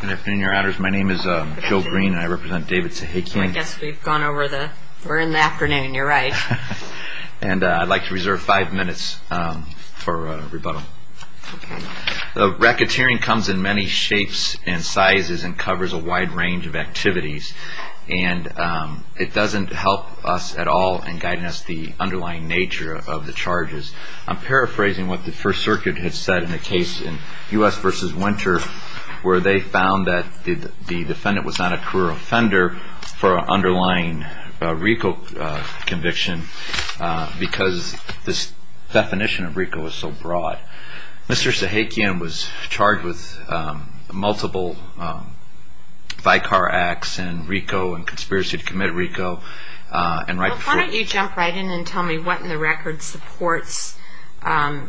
Good afternoon, your honors. My name is Joe Green and I represent David Sahakian. I guess we've gone over the... we're in the afternoon, you're right. And I'd like to reserve five minutes for rebuttal. Racketeering comes in many shapes and sizes and covers a wide range of activities, and it doesn't help us at all in guiding us the underlying nature of the charges. I'm paraphrasing what the First Circuit had said in the case in U.S. v. Winter, where they found that the defendant was not a career offender for an underlying RICO conviction because this definition of RICO was so broad. Mr. Sahakian was charged with multiple VICAR acts and RICO and conspiracy to commit RICO. And right before... Well, why don't you jump right in and tell me what in the record supports your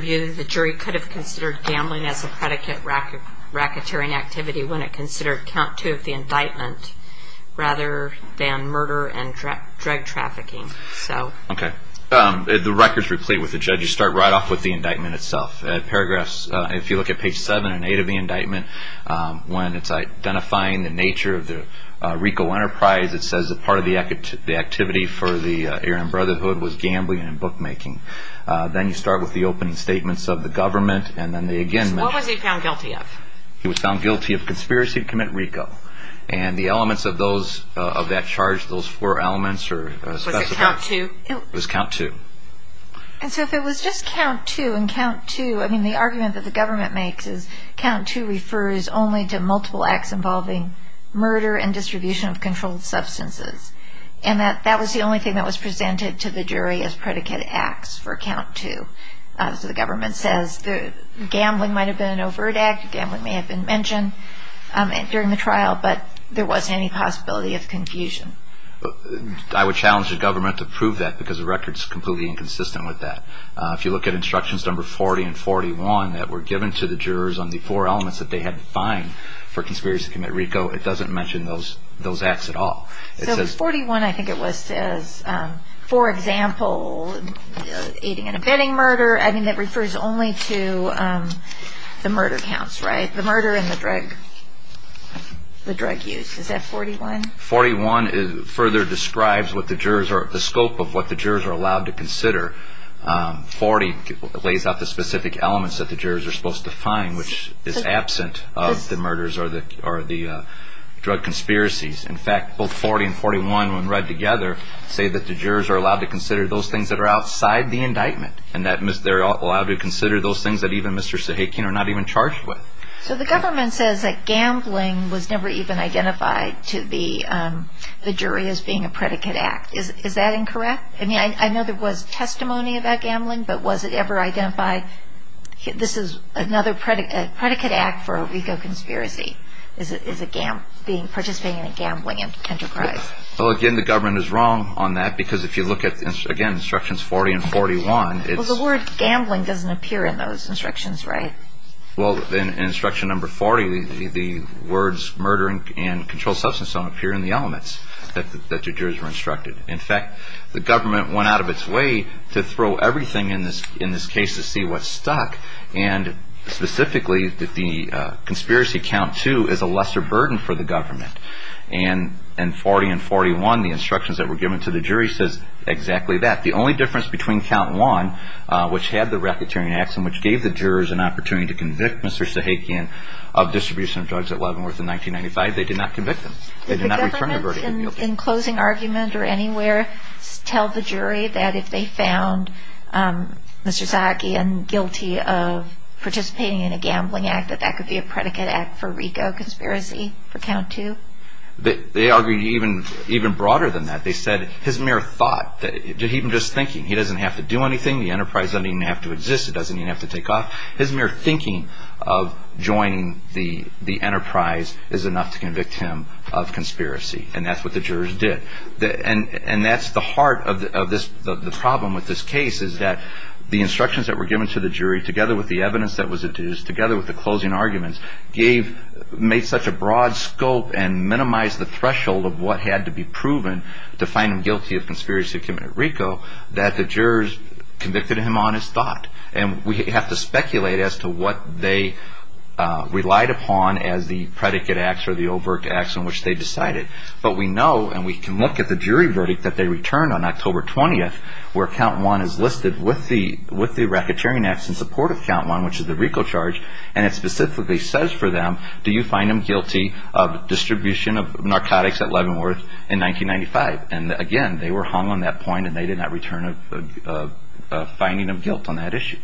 view that the jury could have considered gambling as a predicate racketeering activity when it considered count two of the indictment rather than murder and drug trafficking. Okay. The records replete with the judge. You start right off with the indictment itself. If you look at page seven and eight of the indictment, when it's identifying the nature of the RICO enterprise, it says that part of the activity for the Aaron Brotherhood was gambling and bookmaking. Then you start with the opening statements of the government, and then they again mention... What was he found guilty of? He was found guilty of conspiracy to commit RICO. And the elements of that charge, those four elements are specified. Was it count two? It was count two. And so if it was just count two and count two, I mean, the argument that the government makes is that count two refers only to multiple acts involving murder and distribution of controlled substances. And that was the only thing that was presented to the jury as predicate acts for count two. So the government says gambling might have been an overt act, gambling may have been mentioned during the trial, but there wasn't any possibility of confusion. I would challenge the government to prove that because the record is completely inconsistent with that. If you look at instructions number 40 and 41 that were given to the jurors on the four elements that they had to find for conspiracy to commit RICO, it doesn't mention those acts at all. So 41 I think it was says, for example, aiding and abetting murder. I mean, that refers only to the murder counts, right? The murder and the drug use. Is that 41? 41 further describes the scope of what the jurors are allowed to consider. 40 lays out the specific elements that the jurors are supposed to find, which is absent of the murders or the drug conspiracies. In fact, both 40 and 41 when read together say that the jurors are allowed to consider those things that are outside the indictment and that they're allowed to consider those things that even Mr. Sahakian are not even charged with. So the government says that gambling was never even identified to the jury as being a predicate act. Is that incorrect? I mean, I know there was testimony about gambling, but was it ever identified? This is another predicate act for a RICO conspiracy is participating in a gambling enterprise. Well, again, the government is wrong on that because if you look at, again, instructions 40 and 41. Well, the word gambling doesn't appear in those instructions, right? Well, in instruction number 40, the words murdering and controlled substance don't appear in the elements that the jurors were instructed. In fact, the government went out of its way to throw everything in this case to see what stuck, and specifically that the conspiracy count two is a lesser burden for the government. And 40 and 41, the instructions that were given to the jury, says exactly that. The only difference between count one, which had the racketeering acts and which gave the jurors an opportunity to convict Mr. Sahakian of distribution of drugs at Leavenworth in 1995, they did not convict him. They did not return the verdict. Did the government in closing argument or anywhere tell the jury that if they found Mr. Sahakian guilty of participating in a gambling act, that that could be a predicate act for RICO conspiracy for count two? They argued even broader than that. They said his mere thought, even just thinking, he doesn't have to do anything. The enterprise doesn't even have to exist. It doesn't even have to take off. His mere thinking of joining the enterprise is enough to convict him of conspiracy. And that's what the jurors did. And that's the heart of the problem with this case is that the instructions that were given to the jury, together with the evidence that was adduced, together with the closing arguments, made such a broad scope and minimized the threshold of what had to be proven to find him guilty of conspiracy to commit RICO, that the jurors convicted him on his thought. And we have to speculate as to what they relied upon as the predicate acts or the overt acts in which they decided. But we know, and we can look at the jury verdict that they returned on October 20th, where count one is listed with the racketeering acts in support of count one, which is the RICO charge, and it specifically says for them, do you find him guilty of distribution of narcotics at Leavenworth in 1995? And again, they were hung on that point, and they did not return a finding of guilt on that issue.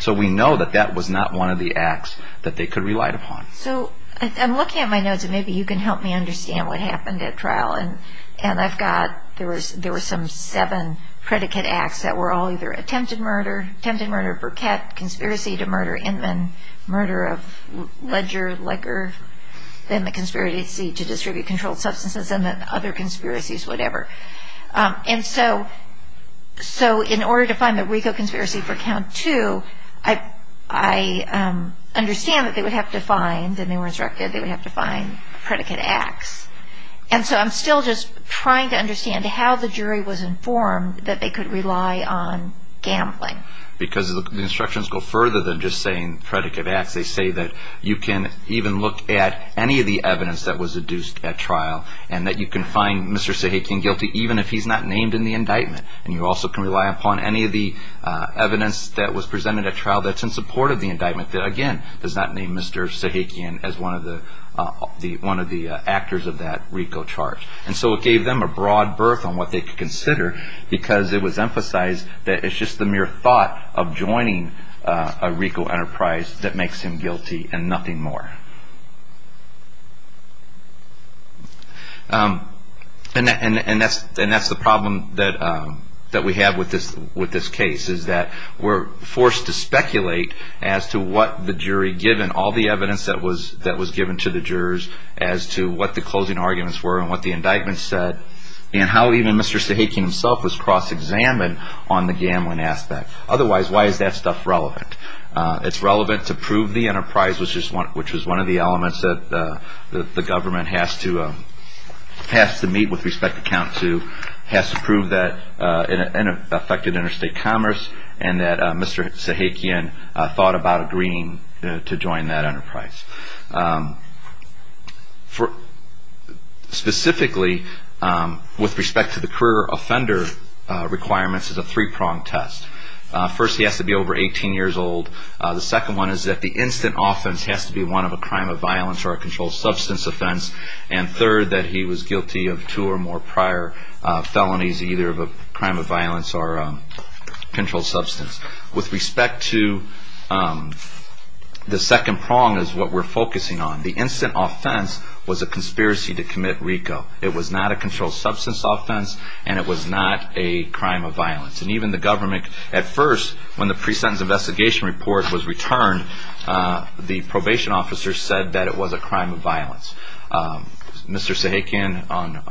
So we know that that was not one of the acts that they could rely upon. So I'm looking at my notes, and maybe you can help me understand what happened at trial. And I've got, there were some seven predicate acts that were all either attempted murder, attempted murder of Burkett, conspiracy to murder Inman, murder of Ledger, Leger, then the conspiracy to distribute controlled substances, and then other conspiracies, whatever. And so in order to find the RICO conspiracy for count two, I understand that they would have to find, and they were instructed they would have to find predicate acts. And so I'm still just trying to understand how the jury was informed that they could rely on gambling. Because the instructions go further than just saying predicate acts. They say that you can even look at any of the evidence that was adduced at trial, and that you can find Mr. Sahakian guilty even if he's not named in the indictment. And you also can rely upon any of the evidence that was presented at trial that's in support of the indictment, that again, does not name Mr. Sahakian as one of the actors of that RICO charge. And so it gave them a broad berth on what they could consider, because it was emphasized that it's just the mere thought of joining a RICO enterprise that makes him guilty and nothing more. And that's the problem that we have with this case, is that we're forced to speculate as to what the jury given, all the evidence that was given to the jurors as to what the closing arguments were and what the indictment said, and how even Mr. Sahakian himself was cross-examined on the gambling aspect. Otherwise, why is that stuff relevant? It's relevant to prove the enterprise, which was one of the elements that the government has to meet with respect to count two, has to prove that it affected interstate commerce, and that Mr. Sahakian thought about agreeing to join that enterprise. Specifically, with respect to the career offender requirements, it's a three-pronged test. First, he has to be over 18 years old. The second one is that the instant offense has to be one of a crime of violence or a controlled substance offense. And third, that he was guilty of two or more prior felonies, either of a crime of violence or a controlled substance. With respect to the second prong is what we're focusing on. The instant offense was a conspiracy to commit RICO. It was not a controlled substance offense, and it was not a crime of violence. And even the government, at first, when the pre-sentence investigation report was returned, the probation officer said that it was a crime of violence. Mr. Sahakian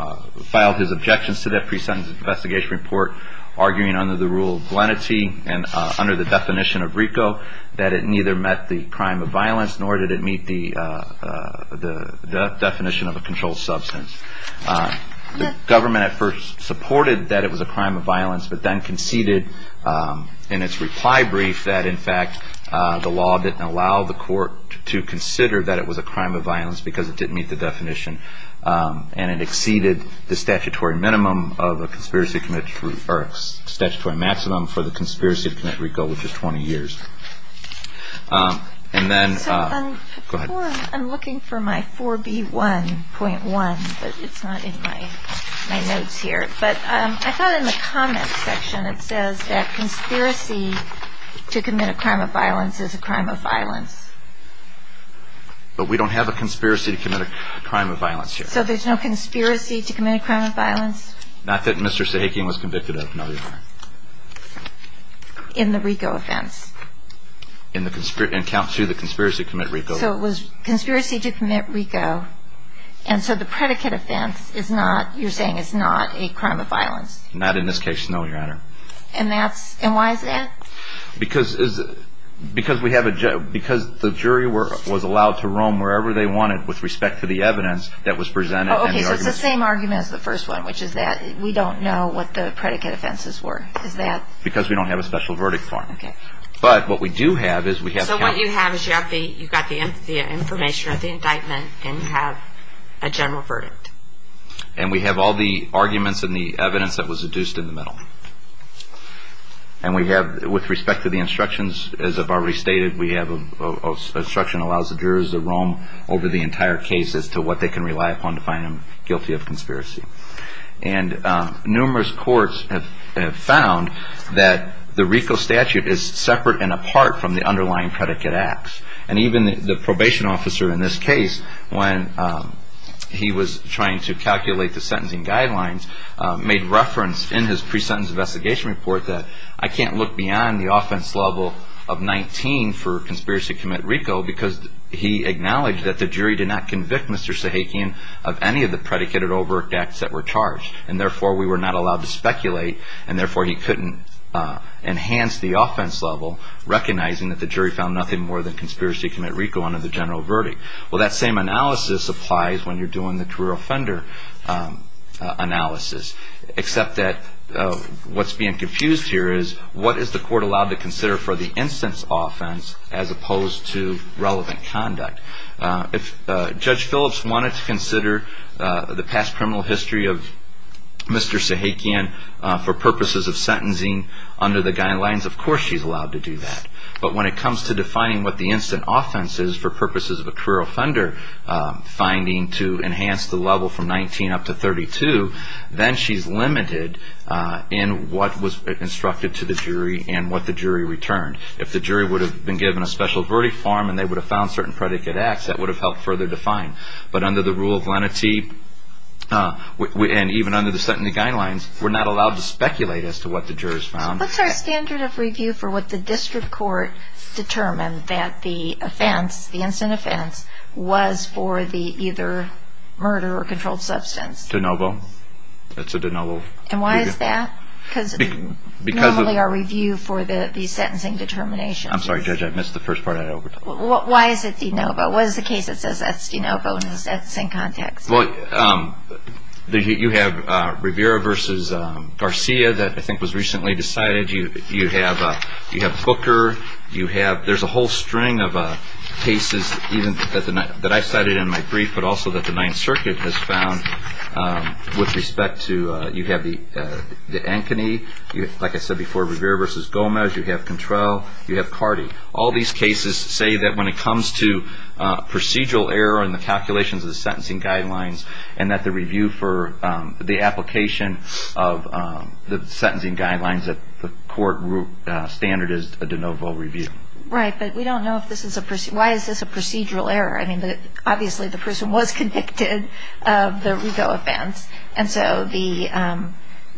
filed his objections to that pre-sentence investigation report, arguing under the rule of lenity and under the definition of RICO, that it neither met the crime of violence nor did it meet the definition of a controlled substance. The government, at first, supported that it was a crime of violence, but then conceded in its reply brief that, in fact, the law didn't allow the court to consider that it was a crime of violence because it didn't meet the definition. And it exceeded the statutory maximum for the conspiracy to commit RICO, which is 20 years. And then, go ahead. I'm looking for my 4B1.1, but it's not in my notes here. But I thought in the comments section it says that conspiracy to commit a crime of violence is a crime of violence. But we don't have a conspiracy to commit a crime of violence here. So there's no conspiracy to commit a crime of violence? Not that Mr. Sahakian was convicted of, no. In the RICO offense? In the conspiracy to commit RICO. So it was conspiracy to commit RICO, and so the predicate offense, you're saying, is not a crime of violence? Not in this case, no, Your Honor. And why is that? Because the jury was allowed to roam wherever they wanted with respect to the evidence that was presented. Okay, so it's the same argument as the first one, which is that we don't know what the predicate offenses were. Is that? Because we don't have a special verdict for them. But what we do have is we have the count. So what you have is you've got the information of the indictment, and you have a general verdict. And we have all the arguments and the evidence that was adduced in the middle. And we have, with respect to the instructions, as I've already stated, we have an instruction that allows the jurors to roam over the entire case as to what they can rely upon to find them guilty of conspiracy. And numerous courts have found that the RICO statute is separate and apart from the underlying predicate acts. And even the probation officer in this case, when he was trying to calculate the sentencing guidelines, made reference in his pre-sentence investigation report that I can't look beyond the offense level of 19 for conspiracy to commit RICO because he acknowledged that the jury did not convict Mr. Sahakian of any of the predicated overt acts that were charged. And therefore, we were not allowed to speculate, and therefore, he couldn't enhance the offense level, recognizing that the jury found nothing more than conspiracy to commit RICO under the general verdict. Well, that same analysis applies when you're doing the career offender analysis, except that what's being confused here is what is the court allowed to consider for the instance offense as opposed to relevant conduct? If Judge Phillips wanted to consider the past criminal history of Mr. Sahakian for purposes of sentencing under the guidelines, of course, she's allowed to do that. But when it comes to defining what the instance offense is for purposes of a career offender finding to enhance the level from 19 up to 32, then she's limited in what was instructed to the jury and what the jury returned. If the jury would have been given a special verdict form and they would have found certain predicate acts, that would have helped further define. But under the rule of lenity, and even under the sentencing guidelines, we're not allowed to speculate as to what the jurors found. What's our standard of review for what the district court determined that the offense, the instance offense, was for the either murder or controlled substance? De novo. That's a de novo. And why is that? Because normally our review for the sentencing determination. I'm sorry, Judge, I missed the first part. Why is it de novo? What is the case that says that's de novo and is that the same context? Well, you have Rivera versus Garcia that I think was recently decided. You have Booker. There's a whole string of cases that I cited in my brief, but also that the Ninth Circuit has found with respect to. You have the Ankeny. Like I said before, Rivera versus Gomez. You have Contrell. You have Cardi. All these cases say that when it comes to procedural error in the calculations of the sentencing guidelines and that the review for the application of the sentencing guidelines that the court standard is a de novo review. Right, but we don't know if this is a procedure. Why is this a procedural error? Obviously the person was convicted of the Rigo offense. And so the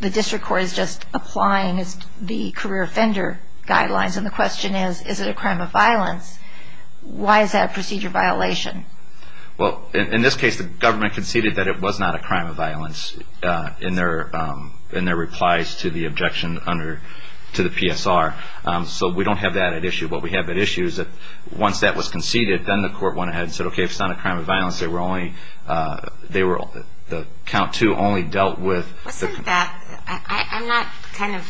district court is just applying the career offender guidelines. And the question is, is it a crime of violence? Why is that a procedure violation? Well, in this case, the government conceded that it was not a crime of violence in their replies to the objection to the PSR. So we don't have that at issue. What we have at issue is that once that was conceded, then the court went ahead and said, okay, it's not a crime of violence. They were only the count two only dealt with. I'm not kind of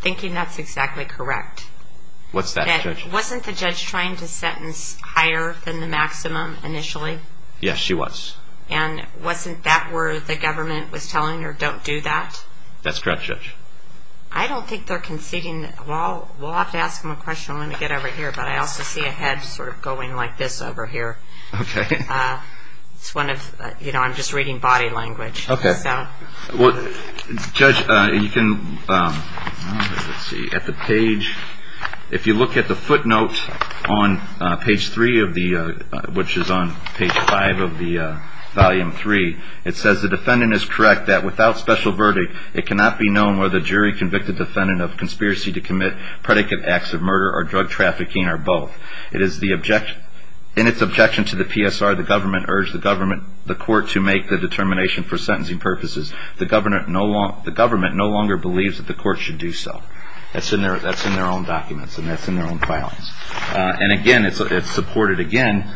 thinking that's exactly correct. What's that, Judge? Wasn't the judge trying to sentence higher than the maximum initially? Yes, she was. And wasn't that where the government was telling her, don't do that? That's correct, Judge. I don't think they're conceding. We'll have to ask them a question when we get over here, but I also see a head sort of going like this over here. Okay. It's one of, you know, I'm just reading body language. Okay. Well, Judge, you can, let's see, at the page, if you look at the footnote on page three of the, which is on page five of the volume three, it says the defendant is correct that without special verdict, it cannot be known whether jury convicted defendant of conspiracy to commit predicate acts of murder or drug trafficking or both. In its objection to the PSR, the government urged the court to make the determination for sentencing purposes. The government no longer believes that the court should do so. That's in their own documents and that's in their own filings. And again, it's supported again,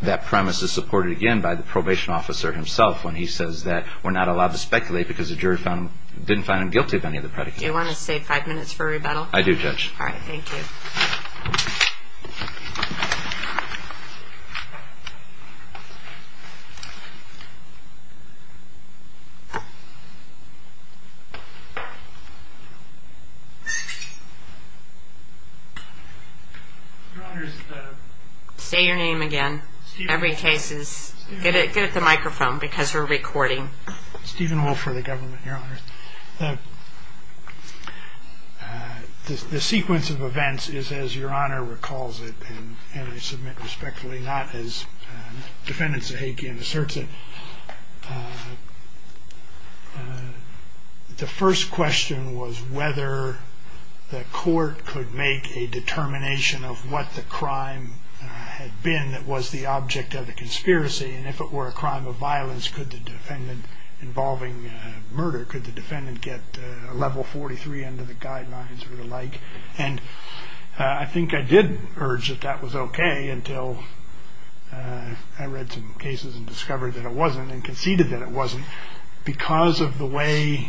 that premise is supported again by the probation officer himself when he says that we're not allowed to speculate because the jury didn't find him guilty of any of the predicates. Do you want to save five minutes for rebuttal? I do, Judge. All right. Thank you. Say your name again. Every case is, get the microphone because we're recording. Stephen Wolf for the government, Your Honor. The sequence of events is as Your Honor recalls it, and I submit respectfully not as defendant Sahakian asserts it. The first question was whether the court could make a determination of what the crime had been that was the object of the conspiracy. And if it were a crime of violence, could the defendant involving murder, could the defendant get a level 43 under the guidelines or the like? And I think I did urge that that was okay until I read some cases and discovered that it wasn't and conceded that it wasn't. Because of the way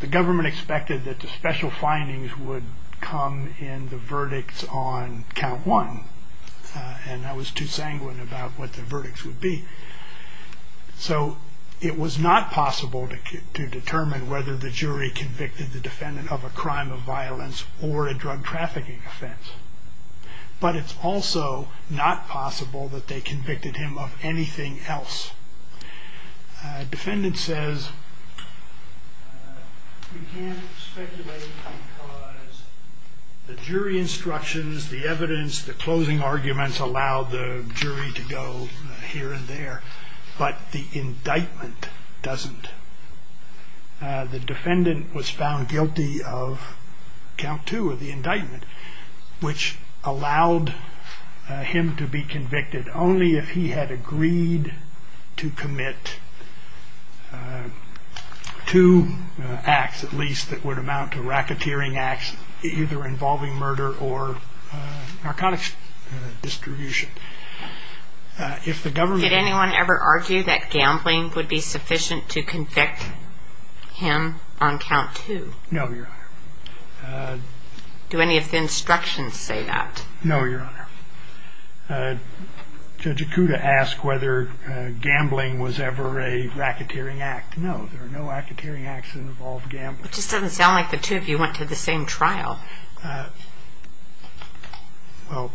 the government expected that the special findings would come in the verdicts on count one. And I was too sanguine about what the verdicts would be. So it was not possible to determine whether the jury convicted the defendant of a crime of violence or a drug trafficking offense. But it's also not possible that they convicted him of anything else. Defendant says you can't speculate because the jury instructions, the evidence, the closing arguments allow the jury to go here and there. But the indictment doesn't. The defendant was found guilty of count two of the indictment, which allowed him to be convicted only if he had agreed to commit two acts, at least, that would amount to racketeering acts either involving murder or narcotics distribution. Did anyone ever argue that gambling would be sufficient to convict him on count two? No, Your Honor. Do any of the instructions say that? No, Your Honor. Judge Ikuda asked whether gambling was ever a racketeering act. No, there are no racketeering acts that involve gambling. It just doesn't sound like the two of you went to the same trial. Well,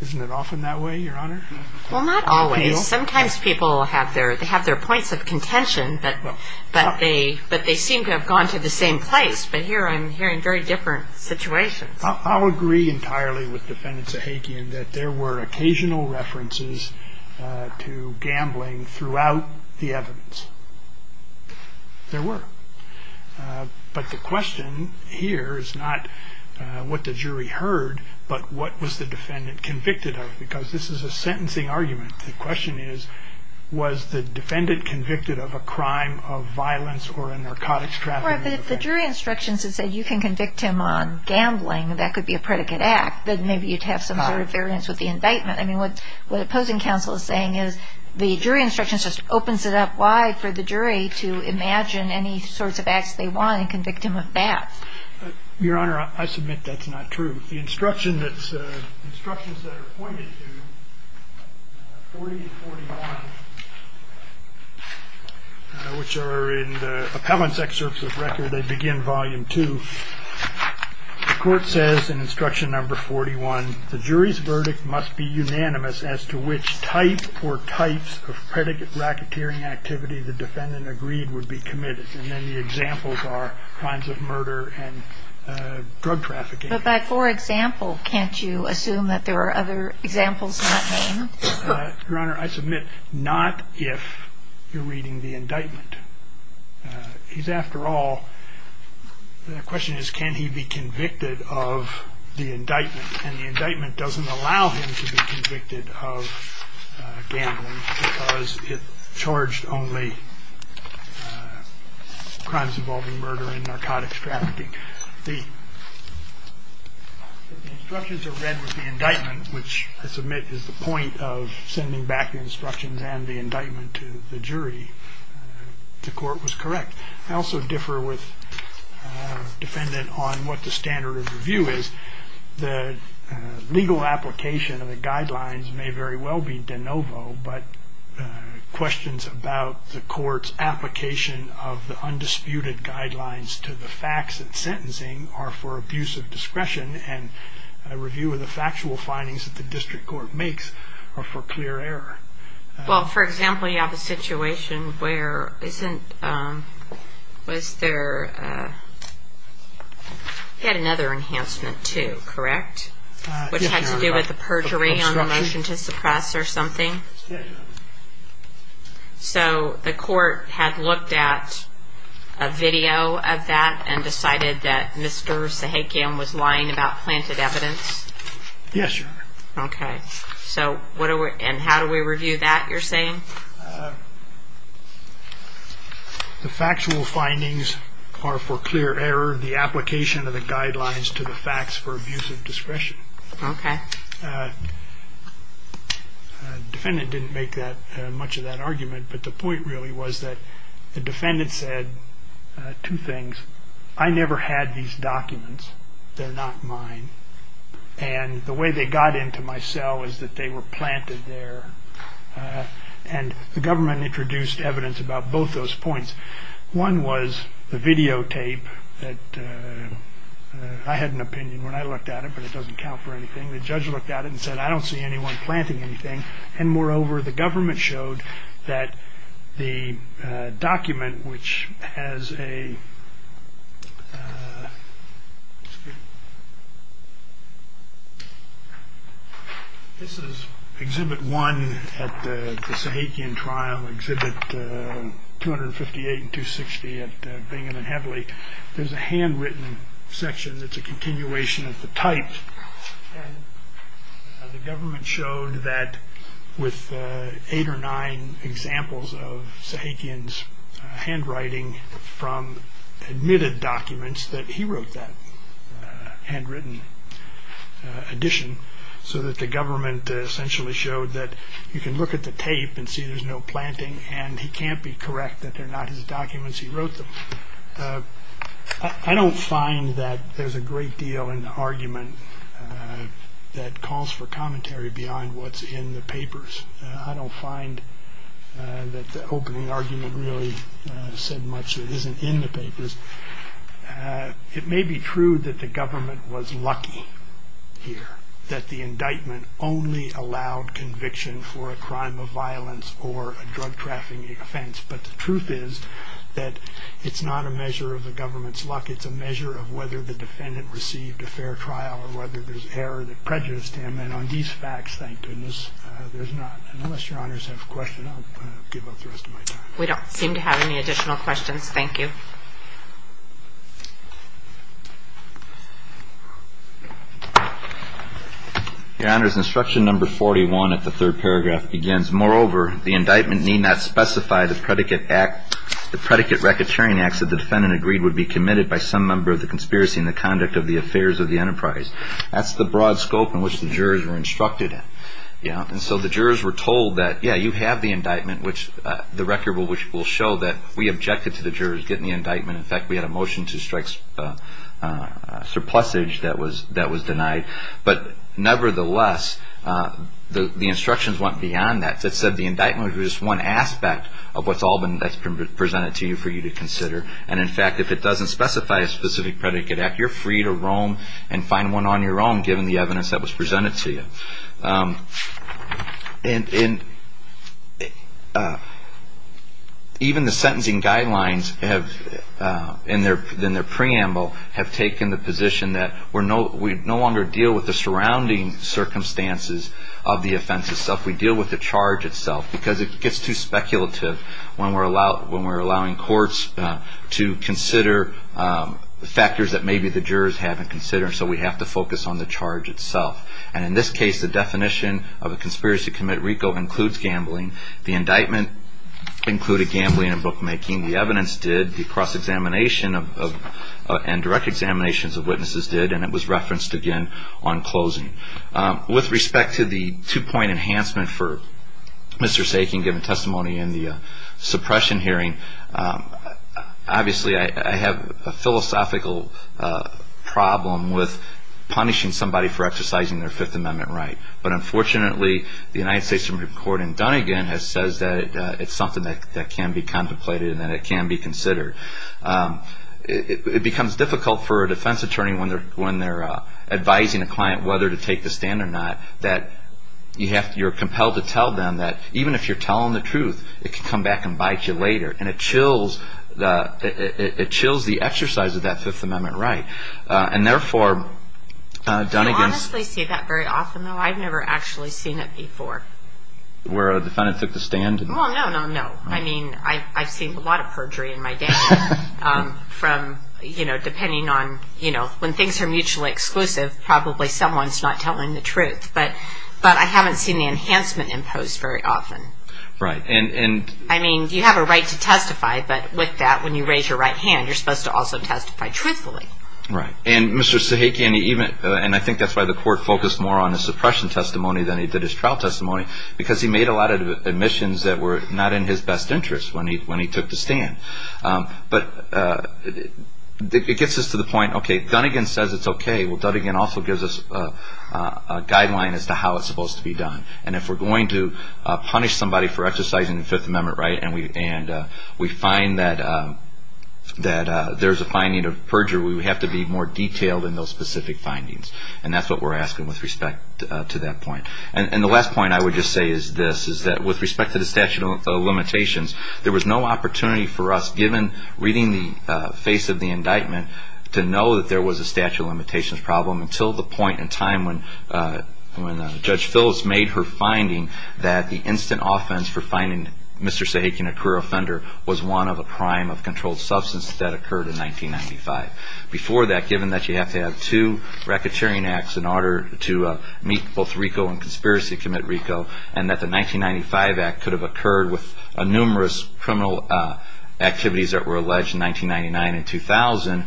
isn't it often that way, Your Honor? Well, not always. Sometimes people have their points of contention, but they seem to have gone to the same place. But here I'm hearing very different situations. I'll agree entirely with Defendant Sahakian that there were occasional references to gambling throughout the evidence. There were. But the question here is not what the jury heard, but what was the defendant convicted of? Because this is a sentencing argument. The question is, was the defendant convicted of a crime of violence or a narcotics trafficking offense? Right, but if the jury instructions had said you can convict him on gambling, that could be a predicate act. Then maybe you'd have some sort of variance with the indictment. I mean, what the opposing counsel is saying is the jury instructions just opens it up wide for the jury to imagine any sorts of acts they want and convict him of that. Your Honor, I submit that's not true. The instructions that are pointed to, 40 and 41, which are in the appellant's excerpts of record, they begin volume two. The court says in instruction number 41, the jury's verdict must be unanimous as to which type or types of predicate racketeering activity the defendant agreed would be committed. And then the examples are crimes of murder and drug trafficking. But by for example, can't you assume that there are other examples? Your Honor, I submit not if you're reading the indictment. After all, the question is can he be convicted of the indictment? And the indictment doesn't allow him to be convicted of gambling because it charged only crimes involving murder and narcotics trafficking. The instructions are read with the indictment, which I submit is the point of sending back the instructions and the indictment to the jury. The court was correct. I also differ with the defendant on what the standard of review is. The legal application of the guidelines may very well be de novo, but questions about the court's application of the undisputed guidelines to the facts it's sentencing are for abuse of discretion, and a review of the factual findings that the district court makes are for clear error. Well, for example, you have a situation where isn't, was there, had another enhancement too, correct? Which had to do with the perjury on the motion to suppress or something? Yes, Your Honor. So the court had looked at a video of that and decided that Mr. Sahakian was lying about planted evidence? Yes, Your Honor. Okay. And how do we review that, you're saying? The factual findings are for clear error. The application of the guidelines to the facts for abuse of discretion. Okay. The defendant didn't make much of that argument, but the point really was that the defendant said two things. I never had these documents. They're not mine. And the way they got into my cell is that they were planted there. And the government introduced evidence about both those points. One was the videotape that I had an opinion when I looked at it, but it doesn't count for anything. The judge looked at it and said, I don't see anyone planting anything. And moreover, the government showed that the document, which has a – this is Exhibit 1 at the Sahakian trial, Exhibit 258 and 260 at Bingham and Headley. There's a handwritten section that's a continuation of the type. And the government showed that with eight or nine examples of Sahakian's handwriting from admitted documents, that he wrote that handwritten edition so that the government essentially showed that you can look at the tape and see there's no planting, and he can't be correct that they're not his documents. He wrote them. I don't find that there's a great deal in the argument that calls for commentary beyond what's in the papers. I don't find that the opening argument really said much that isn't in the papers. It may be true that the government was lucky here, that the indictment only allowed conviction for a crime of violence or a drug trafficking offense. But the truth is that it's not a measure of the government's luck. It's a measure of whether the defendant received a fair trial or whether there's error that prejudiced him. And on these facts, thank goodness, there's not. Unless Your Honors have a question, I'll give up the rest of my time. We don't seem to have any additional questions. Thank you. Your Honors, Instruction Number 41 at the third paragraph begins, Moreover, the indictment need not specify the predicate racketeering acts that the defendant agreed would be committed by some member of the conspiracy in the conduct of the affairs of the enterprise. That's the broad scope in which the jurors were instructed in. And so the jurors were told that, yeah, you have the indictment, which the record will show that we objected to the jurors getting the indictment. In fact, we had a motion to strike surplusage that was denied. But nevertheless, the instructions went beyond that. It said the indictment was just one aspect of what's all been presented to you for you to consider. And in fact, if it doesn't specify a specific predicate act, you're free to roam and find one on your own given the evidence that was presented to you. And even the sentencing guidelines in their preamble have taken the position that we're no longer dealing with the surrounding circumstances of the offense itself. We deal with the charge itself. Because it gets too speculative when we're allowing courts to consider factors that maybe the jurors haven't considered. So we have to focus on the charge itself. And in this case, the definition of a conspiracy to commit RICO includes gambling. The indictment included gambling and bookmaking. The evidence did. The cross-examination and direct examinations of witnesses did. And it was referenced again on closing. With respect to the two-point enhancement for Mr. Sakin given testimony in the suppression hearing, obviously I have a philosophical problem with punishing somebody for exercising their Fifth Amendment right. But unfortunately, the United States Supreme Court in Dunnegan has said that it's something that can be contemplated and that it can be considered. It becomes difficult for a defense attorney when they're advising a client whether to take the stand or not, that you're compelled to tell them that even if you're telling the truth, it can come back and bite you later. And it chills the exercise of that Fifth Amendment right. And therefore, Dunnegan's... I honestly see that very often, though. I've never actually seen it before. Where a defendant took the stand? Well, no, no, no. I mean, I've seen a lot of perjury in my day from, you know, depending on, you know, when things are mutually exclusive, probably someone's not telling the truth. But I haven't seen the enhancement imposed very often. Right. And... I mean, you have a right to testify, but with that, when you raise your right hand, you're supposed to also testify truthfully. Right. And Mr. Sakin, and I think that's why the court focused more on his suppression testimony than he did his trial testimony, because he made a lot of admissions that were not in his best interest when he took the stand. But it gets us to the point, okay, Dunnegan says it's okay. Well, Dunnegan also gives us a guideline as to how it's supposed to be done. And if we're going to punish somebody for exercising the Fifth Amendment, right, and we find that there's a finding of perjury, we have to be more detailed in those specific findings. And that's what we're asking with respect to that point. And the last point I would just say is this, is that with respect to the statute of limitations, there was no opportunity for us, given reading the face of the indictment, to know that there was a statute of limitations problem until the point in time when Judge Phillips made her finding that the instant offense for finding Mr. Sakin a career offender was one of a prime of controlled substance that occurred in 1995. Before that, given that you have to have two racketeering acts in order to meet both RICO and conspiracy commit RICO, and that the 1995 act could have occurred with numerous criminal activities that were alleged in 1999 and 2000,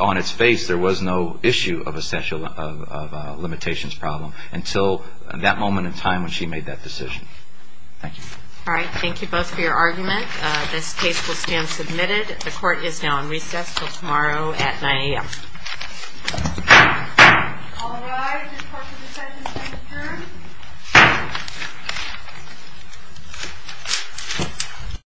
on its face there was no issue of a statute of limitations problem until that moment in time when she made that decision. Thank you. All right. Thank you both for your argument. This case will stand submitted. The court is now on recess until tomorrow at 9 a.m. All rise. The court has decided to adjourn.